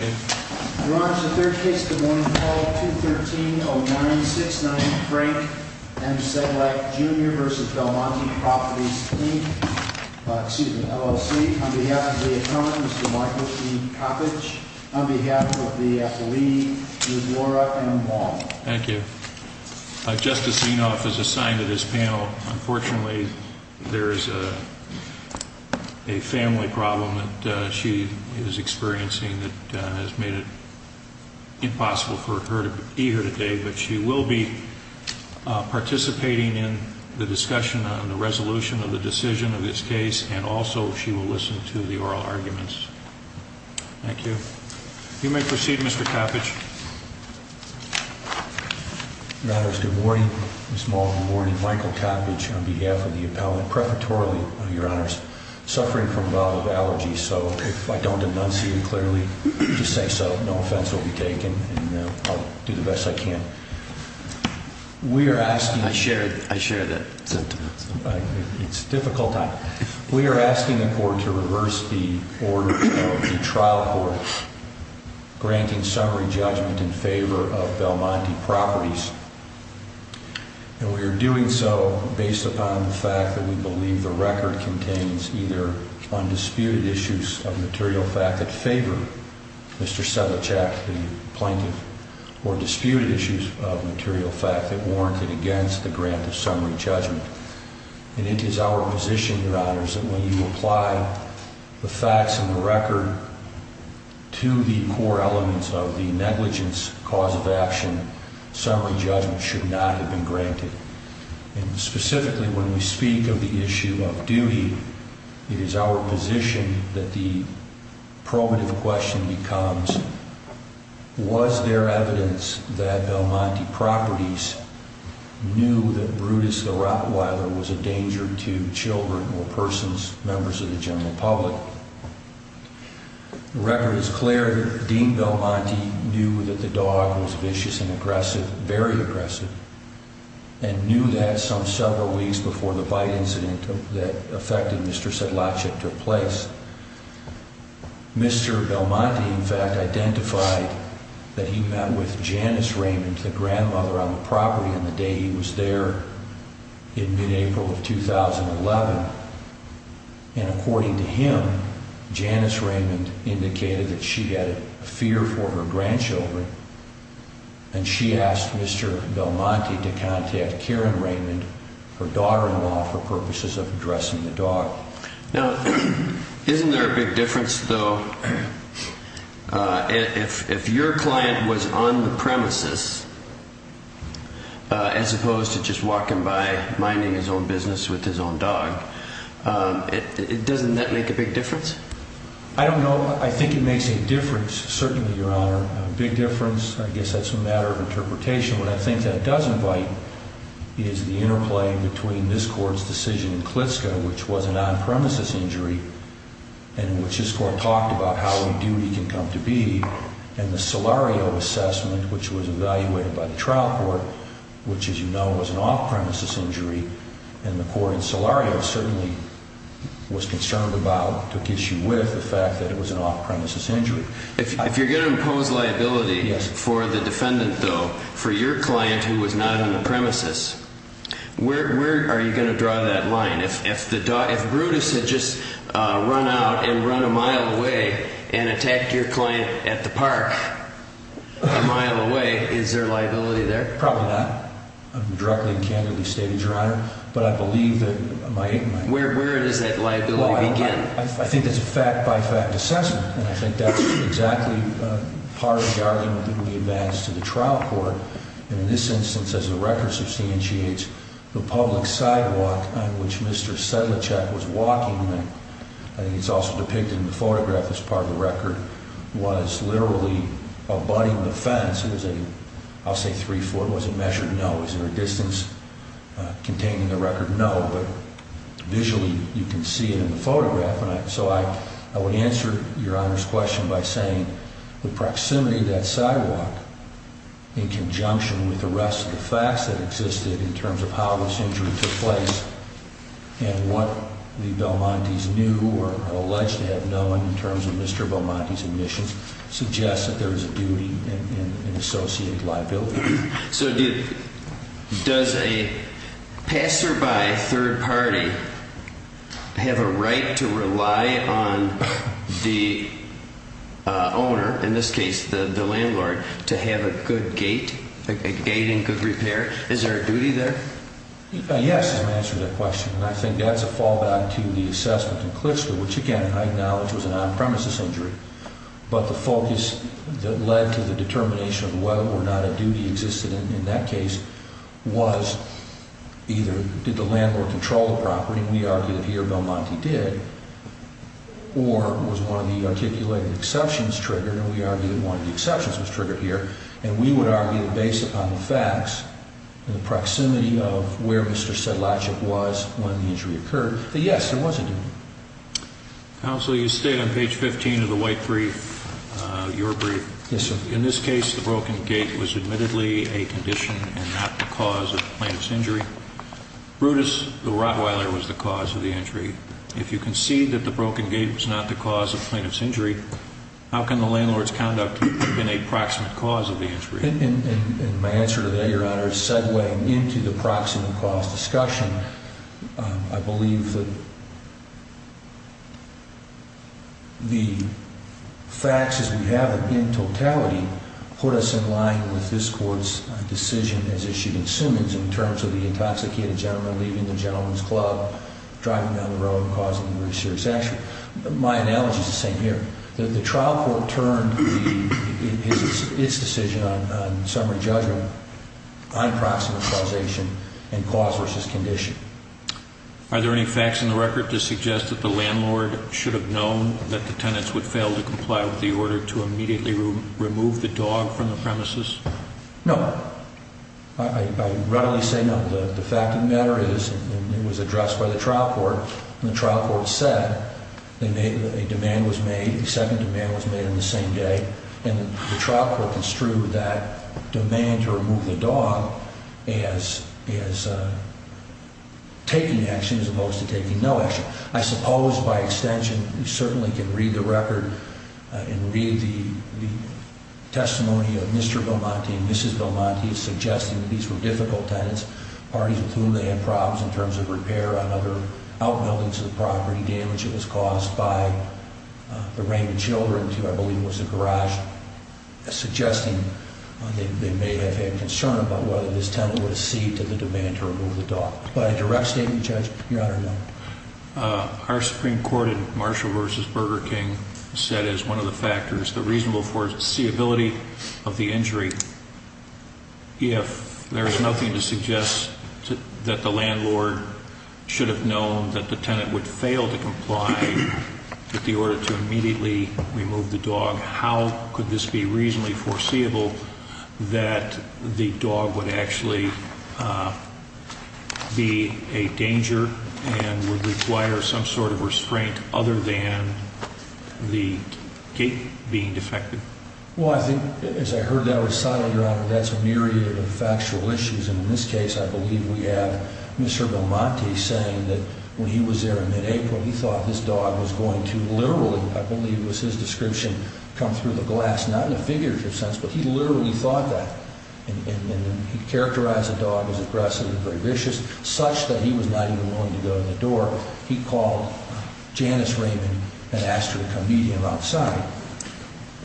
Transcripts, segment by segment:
On behalf of the accountant, Mr. Michael T. Coppedge. On behalf of the athlete, Ms. Laura M. Wall. Thank you. Justice Zinoff is assigned to this panel. Unfortunately, there is a family problem that she is experiencing that has made it impossible for her to be here today. But she will be participating in the discussion on the resolution of the decision of this case, and also she will listen to the oral arguments. Thank you. You may proceed, Mr. Coppedge. Your Honor, good morning. Ms. Wall, good morning. Michael Coppedge on behalf of the appellant. Preparatorily, Your Honor, suffering from a bowel allergy, so if I don't enunciate clearly to say so, no offense will be taken, and I'll do the best I can. We are asking the court to reverse the order of the trial court, granting summary judgment in favor of Belmonte Properties, and we are doing so based upon the fact that we believe the record contains either undisputed issues of material fact that favor Mr. Sedlacek, the plaintiff, or disputed issues that favor Mr. Coppedge. And it is our position, Your Honors, that when you apply the facts and the record to the core elements of the negligence cause of action, summary judgment should not have been granted. And specifically when we speak of the issue of duty, it is our position that the probative question becomes, was there evidence that Belmonte Properties knew that Brutus the Rottweiler was a danger to children or persons, members of the general public? The record is clear that Dean Belmonte knew that the dog was vicious and aggressive, very aggressive, and knew that some several weeks before the bite incident that affected Mr. Sedlacek took place. Mr. Belmonte, in fact, identified that he met with Janice Raymond, the grandmother on the property, on the day he was there in mid-April of 2011. And according to him, Janice Raymond indicated that she had a fear for her grandchildren, and she asked Mr. Belmonte to contact Karen Raymond, her daughter-in-law, for purposes of addressing the dog. Now, isn't there a big difference, though, if your client was on the premises as opposed to just walking by, minding his own business with his own dog? Doesn't that make a big difference? I don't know. I think it makes a difference, certainly, Your Honor, a big difference. I guess that's a matter of interpretation. What I think that does invite is the interplay between this Court's decision in Klitschko, which was an on-premises injury, and which this Court talked about how a duty can come to be, and the Solario assessment, which was evaluated by the trial court, which, as you know, was an off-premises injury, and the Court in Solario certainly was concerned about, took issue with the fact that the dog was a danger to children. If you're going to impose liability for the defendant, though, for your client who was not on the premises, where are you going to draw that line? If Brutus had just run out and run a mile away and attacked your client at the park a mile away, is there liability there? Probably not. I'm directly and candidly stating, Your Honor, but I believe that it might. Where does that liability begin? I think it's a fact-by-fact assessment, and I think that's exactly part of the argument that we advance to the trial court. In this instance, as the record substantiates, the public sidewalk on which Mr. Sedlicek was walking, and I think it's also depicted in the photograph as part of the record, was literally abutting the fence. I'll say three foot. Was it measured? No. Is there a distance containing the record? No. But visually, you can see it in the photograph. I would answer Your Honor's question by saying the proximity of that sidewalk, in conjunction with the rest of the facts that existed in terms of how this injury took place, and what the Belmontes knew or are alleged to have known in terms of Mr. Belmonte's admissions, suggests that there is a duty and associated liability. So does a passerby third party have a right to rely on the owner, in this case the landlord, to have a good gate, a gate in good repair? Is there a duty there? Yes, to answer that question, and I think that's a fallback to the assessment in Clixton, which again I acknowledge was an on-premises injury, but the focus that led to the determination of whether or not a duty existed in that case was either did the landlord control the property, and we argue that here Belmonte did, or was one of the articulated exceptions triggered, and we argue that one of the exceptions was triggered here, and we would argue that based upon the facts, the proximity of where Mr. Sedlacic was when the injury occurred, that yes, there was a duty. Counsel, you state on page 15 of the white brief, your brief, in this case the broken gate was admittedly a condition and not the cause of the plaintiff's injury. Brutus, the rottweiler, was the cause of the injury. If you concede that the broken gate was not the cause of the plaintiff's injury, how can the landlord's conduct have been a proximate cause of the injury? In my answer to that, Your Honor, segueing into the proximate cause discussion, I believe that the facts as we have them in totality put us in line with this Court's decision as issued in Summons in terms of the intoxicated gentleman leaving the gentleman's club, driving down the road, causing a very serious accident. My analogy is the same here. The trial court turned its decision on summary judgment on proximate causation and cause versus condition. Are there any facts in the record to suggest that the landlord should have known that the tenants would fail to comply with the order to immediately remove the dog from the premises? No. I readily say no. The fact of the matter is it was addressed by the trial court, and the trial court said a demand was made, a second demand was made on the same day, and the trial court construed that demand to remove the dog as taking action as opposed to taking no action. I suppose, by extension, we certainly can read the record and read the testimony of Mr. Belmonte and Mrs. Belmonte, suggesting that these were difficult tenants, parties with whom they had problems in terms of repair on other outbuildings of the property, damage that was caused by the range of children, which I believe was a garage, suggesting they may have had concern about whether this tenant would accede to the demand to remove the dog. By a direct statement, Judge, Your Honor, no. Our Supreme Court in Marshall v. Burger King said as one of the factors, the reasonable foreseeability of the injury, if there is nothing to suggest that the landlord should have known that the tenant would fail to comply with the order to immediately remove the dog, how could this be reasonably foreseeable that the dog would actually be a danger and would require some sort of restraint other than the gate being defective? Well, I think, as I heard that recital, Your Honor, that's a myriad of factual issues, and in this case, I believe we have Mr. Belmonte saying that when he was there in mid-April, he thought this dog was going to literally, I believe was his description, come through the glass, not in a figurative sense, but he literally thought that. And he characterized the dog as aggressive and very vicious, such that he was not even willing to go in the door. He called Janice Raymond and asked her to come meet him outside.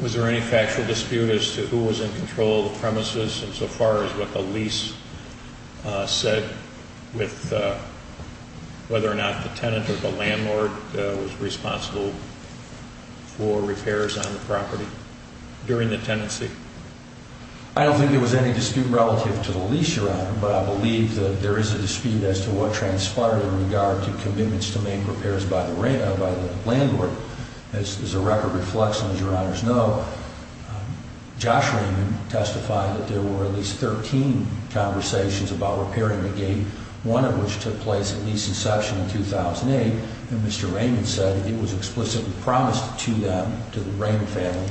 Was there any factual dispute as to who was in control of the premises insofar as what the lease said with whether or not the tenant or the landlord was responsible for repairs on the property during the tenancy? I don't think there was any dispute relative to the lease, Your Honor, but I believe that there is a dispute as to what transpired in regard to commitments to make repairs by the landlord. As the record reflects, and as Your Honors know, Josh Raymond testified that there were at least 13 conversations about repairing the gate, one of which took place at lease inception in 2008, and Mr. Raymond said that it was explicitly promised to them, to the Raymond family,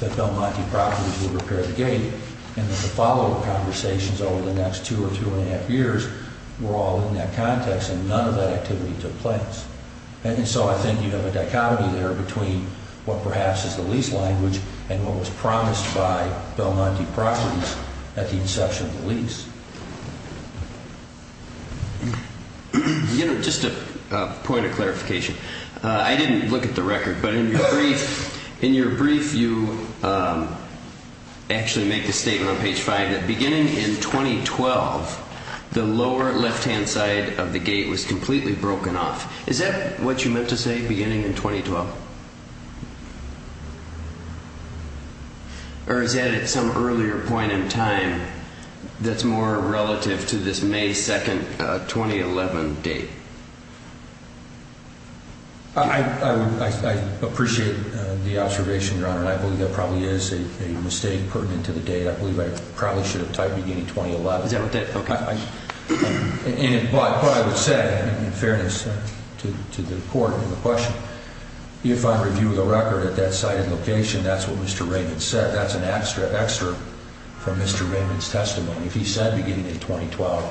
that Belmonte Properties would repair the gate, and that the follow-up conversations over the next two or two and a half years were all in that context, and none of that activity took place. And so I think you have a dichotomy there between what perhaps is the lease language and what was promised by Belmonte Properties at the inception of the lease. Your Honor, just a point of clarification, I didn't look at the record, but in your brief you actually make the statement on page 5 that beginning in 2012, the lower left-hand side of the gate was completely broken off. Is that what you meant to say, beginning in 2012? Or is that at some earlier point in time that's more relative to this May 2, 2011 date? I appreciate the observation, Your Honor, and I believe that probably is a mistake pertinent to the date. I believe I probably should have typed beginning 2011. Is that what that – okay. And what I would say, in fairness to the Court in the question, if I review the record at that site and location, that's what Mr. Raymond said. That's an extra from Mr. Raymond's testimony. If he said beginning in 2012,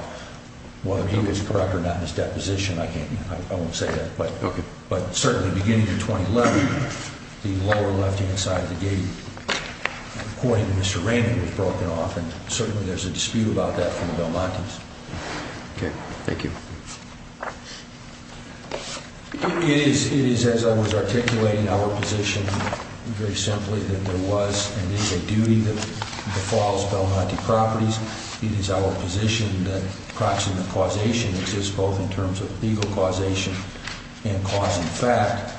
whether he was correct or not in his deposition, I can't – I won't say that. But certainly beginning in 2011, the lower left-hand side of the gate, according to Mr. Raymond, was broken off, and certainly there's a dispute about that from the Belmontes. Okay. Thank you. It is, as I was articulating, our position very simply that there was and is a duty that befalls Belmonte properties. It is our position that proximate causation exists both in terms of legal causation and cause and fact,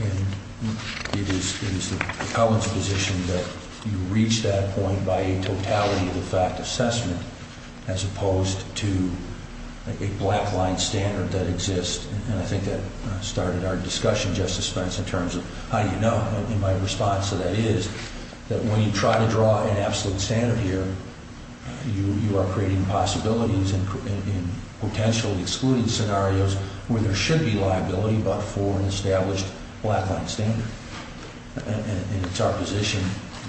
and it is the Covenant's position that you reach that point by a totality of the fact assessment as opposed to a black-line standard that exists. And I think that started our discussion, Justice Spence, in terms of how do you know? And my response to that is that when you try to draw an absolute standard here, you are creating possibilities and potentially excluding scenarios where there should be liability but for an established black-line standard. And it's our position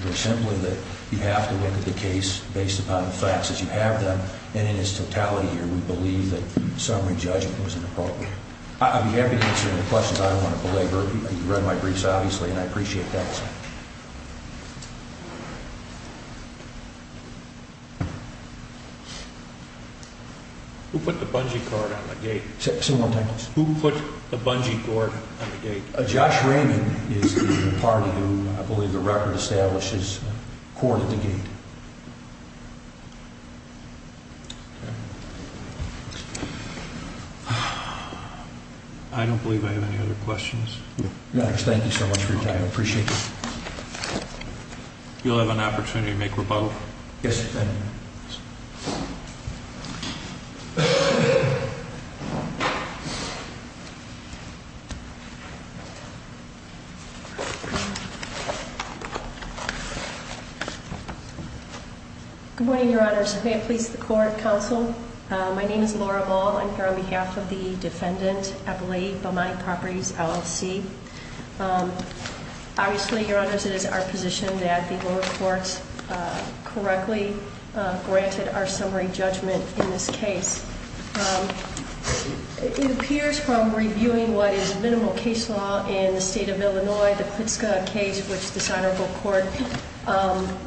very simply that you have to look at the case based upon the facts as you have them, and in its totality here, we believe that summary judgment was inappropriate. I'm happy to answer any questions. I don't want to belabor. You read my briefs, obviously, and I appreciate that. Who put the bungee cord on the gate? Say that one more time, please. Josh Raymond is the party who, I believe, the record establishes corded the gate. I don't believe I have any other questions. Thank you so much for your time. I appreciate it. You'll have an opportunity to make rebuttal. Yes, sir. Good morning, Your Honors. May it please the Court, Counsel. My name is Laura Ball. I'm here on behalf of the defendant, Abilene Balmonte Properties, LLC. Obviously, Your Honors, it is our position that the lower courts correctly granted our summary judgment in this case. It appears from reviewing what is minimal case law in the state of Illinois, the Klitschko case, which the Sinopo Court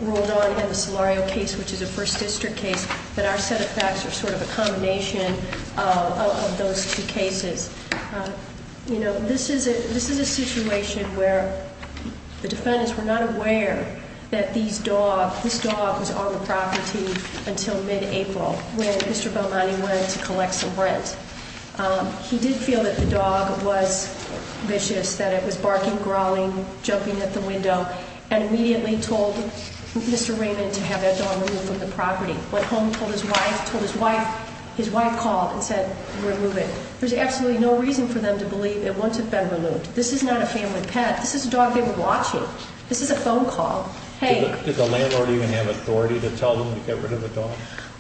ruled on, and the Solario case, which is a First District case, that our set of facts are sort of a combination of those two cases. This is a situation where the defendants were not aware that this dog was on the property until mid-April when Mr. Balmonte went to collect some rent. He did feel that the dog was vicious, that it was barking, growling, jumping at the window, and immediately told Mr. Raymond to have that dog removed from the property. Went home, told his wife, told his wife, his wife called and said, remove it. There's absolutely no reason for them to believe it won't have been removed. This is not a family pet. This is a dog they were watching. This is a phone call. Did the landlord even have authority to tell them to get rid of the dog?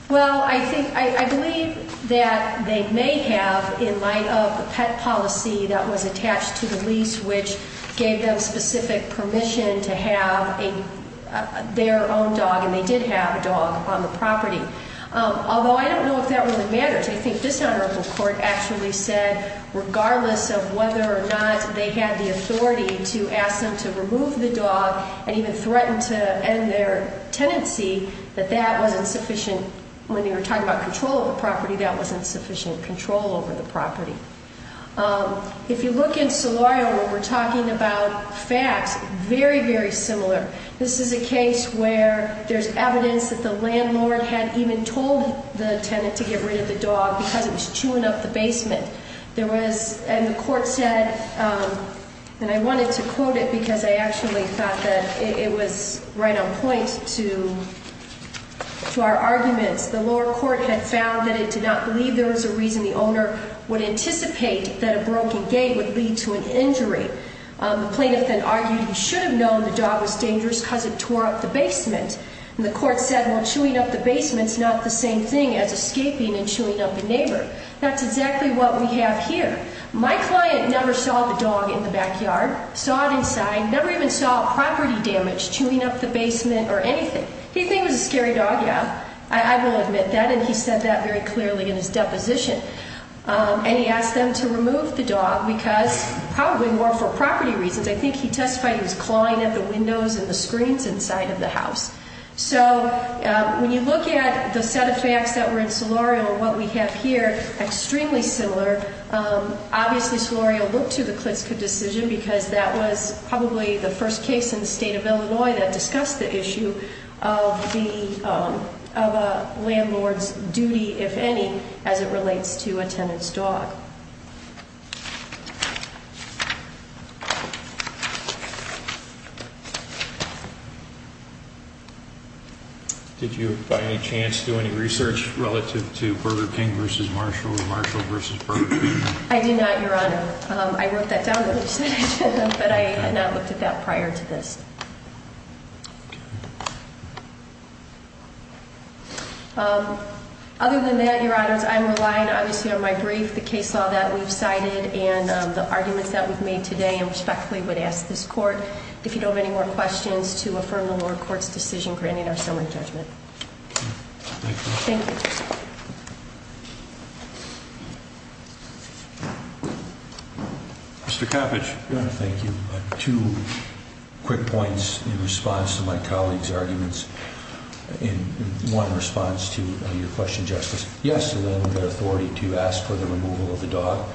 Well, I believe that they may have in light of the pet policy that was attached to the lease, which gave them specific permission to have their own dog, and they did have a dog on the property. Although I don't know if that really matters. I think this honorable court actually said regardless of whether or not they had the authority to ask them to remove the dog and even threaten to end their tenancy, that that wasn't sufficient. When they were talking about control of the property, that wasn't sufficient control over the property. If you look in Solorio where we're talking about facts, very, very similar. This is a case where there's evidence that the landlord had even told the tenant to get rid of the dog because it was chewing up the basement. There was, and the court said, and I wanted to quote it because I actually thought that it was right on point to our arguments. The lower court had found that it did not believe there was a reason the owner would anticipate that a broken gate would lead to an injury. The plaintiff then argued he should have known the dog was dangerous because it tore up the basement. And the court said, well, chewing up the basement's not the same thing as escaping and chewing up a neighbor. That's exactly what we have here. My client never saw the dog in the backyard, saw it inside, never even saw property damage, chewing up the basement or anything. He thinks it's a scary dog, yeah. I will admit that, and he said that very clearly in his deposition. And he asked them to remove the dog because probably more for property reasons. I think he testified he was clawing at the windows and the screens inside of the house. So when you look at the set of facts that were in Solorio and what we have here, extremely similar. Obviously Solorio looked to the Klitzkuh decision because that was probably the first case in the state of Illinois that discussed the issue of a landlord's duty, if any, as it relates to a tenant's dog. Did you, by any chance, do any research relative to Burger King v. Marshall or Marshall v. Burger King? I did not, Your Honor. I wrote that down, but I had not looked at that prior to this. Other than that, Your Honors, I'm relying, obviously, on my brief, the case law that we've cited, and the arguments that we've made today. I respectfully would ask this court, if you don't have any more questions, to affirm the lower court's decision granting our summary judgment. Thank you. Thank you. Mr. Coppedge. Your Honor, thank you. Two quick points in response to my colleague's arguments. One in response to your question, Justice. Yes, there is authority to ask for the removal of the dog.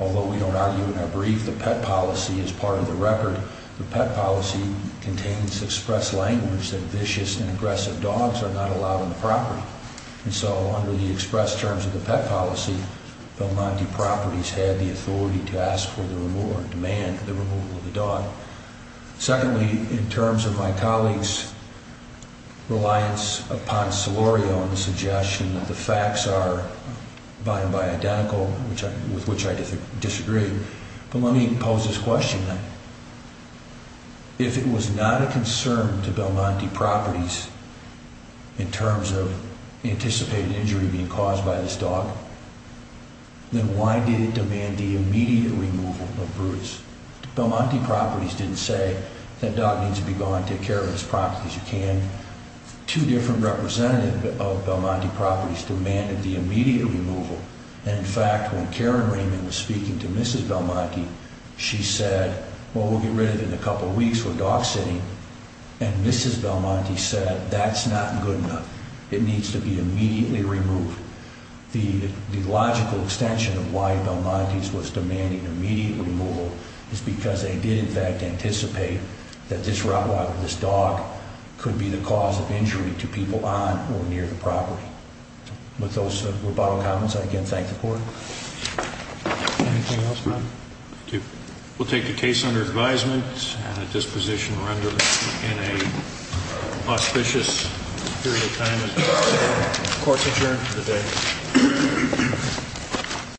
Although we don't argue in our brief, the pet policy is part of the record. The pet policy contains express language that vicious and aggressive dogs are not allowed on the property. And so under the express terms of the pet policy, Belmonte Properties had the authority to ask for the removal or demand the removal of the dog. Secondly, in terms of my colleague's reliance upon Solorio in the suggestion that the facts are by and by identical, with which I disagree, but let me pose this question then. If it was not a concern to Belmonte Properties in terms of anticipated injury being caused by this dog, then why did it demand the immediate removal of Bruce? Belmonte Properties didn't say that dog needs to be gone, take care of this property as you can. Two different representatives of Belmonte Properties demanded the immediate removal. And in fact, when Karen Raymond was speaking to Mrs. Belmonte, she said, well, we'll get rid of it in a couple weeks, we're dog sitting. And Mrs. Belmonte said, that's not good enough. It needs to be immediately removed. The logical extension of why Belmonte's was demanding immediate removal is because they did in fact anticipate that this dog could be the cause of injury to people on or near the property. With those rebuttal comments, I again thank the court. Anything else, ma'am? Thank you. We'll take the case under advisement and a disposition rendered in a auspicious period of time as the court's adjourned for the day.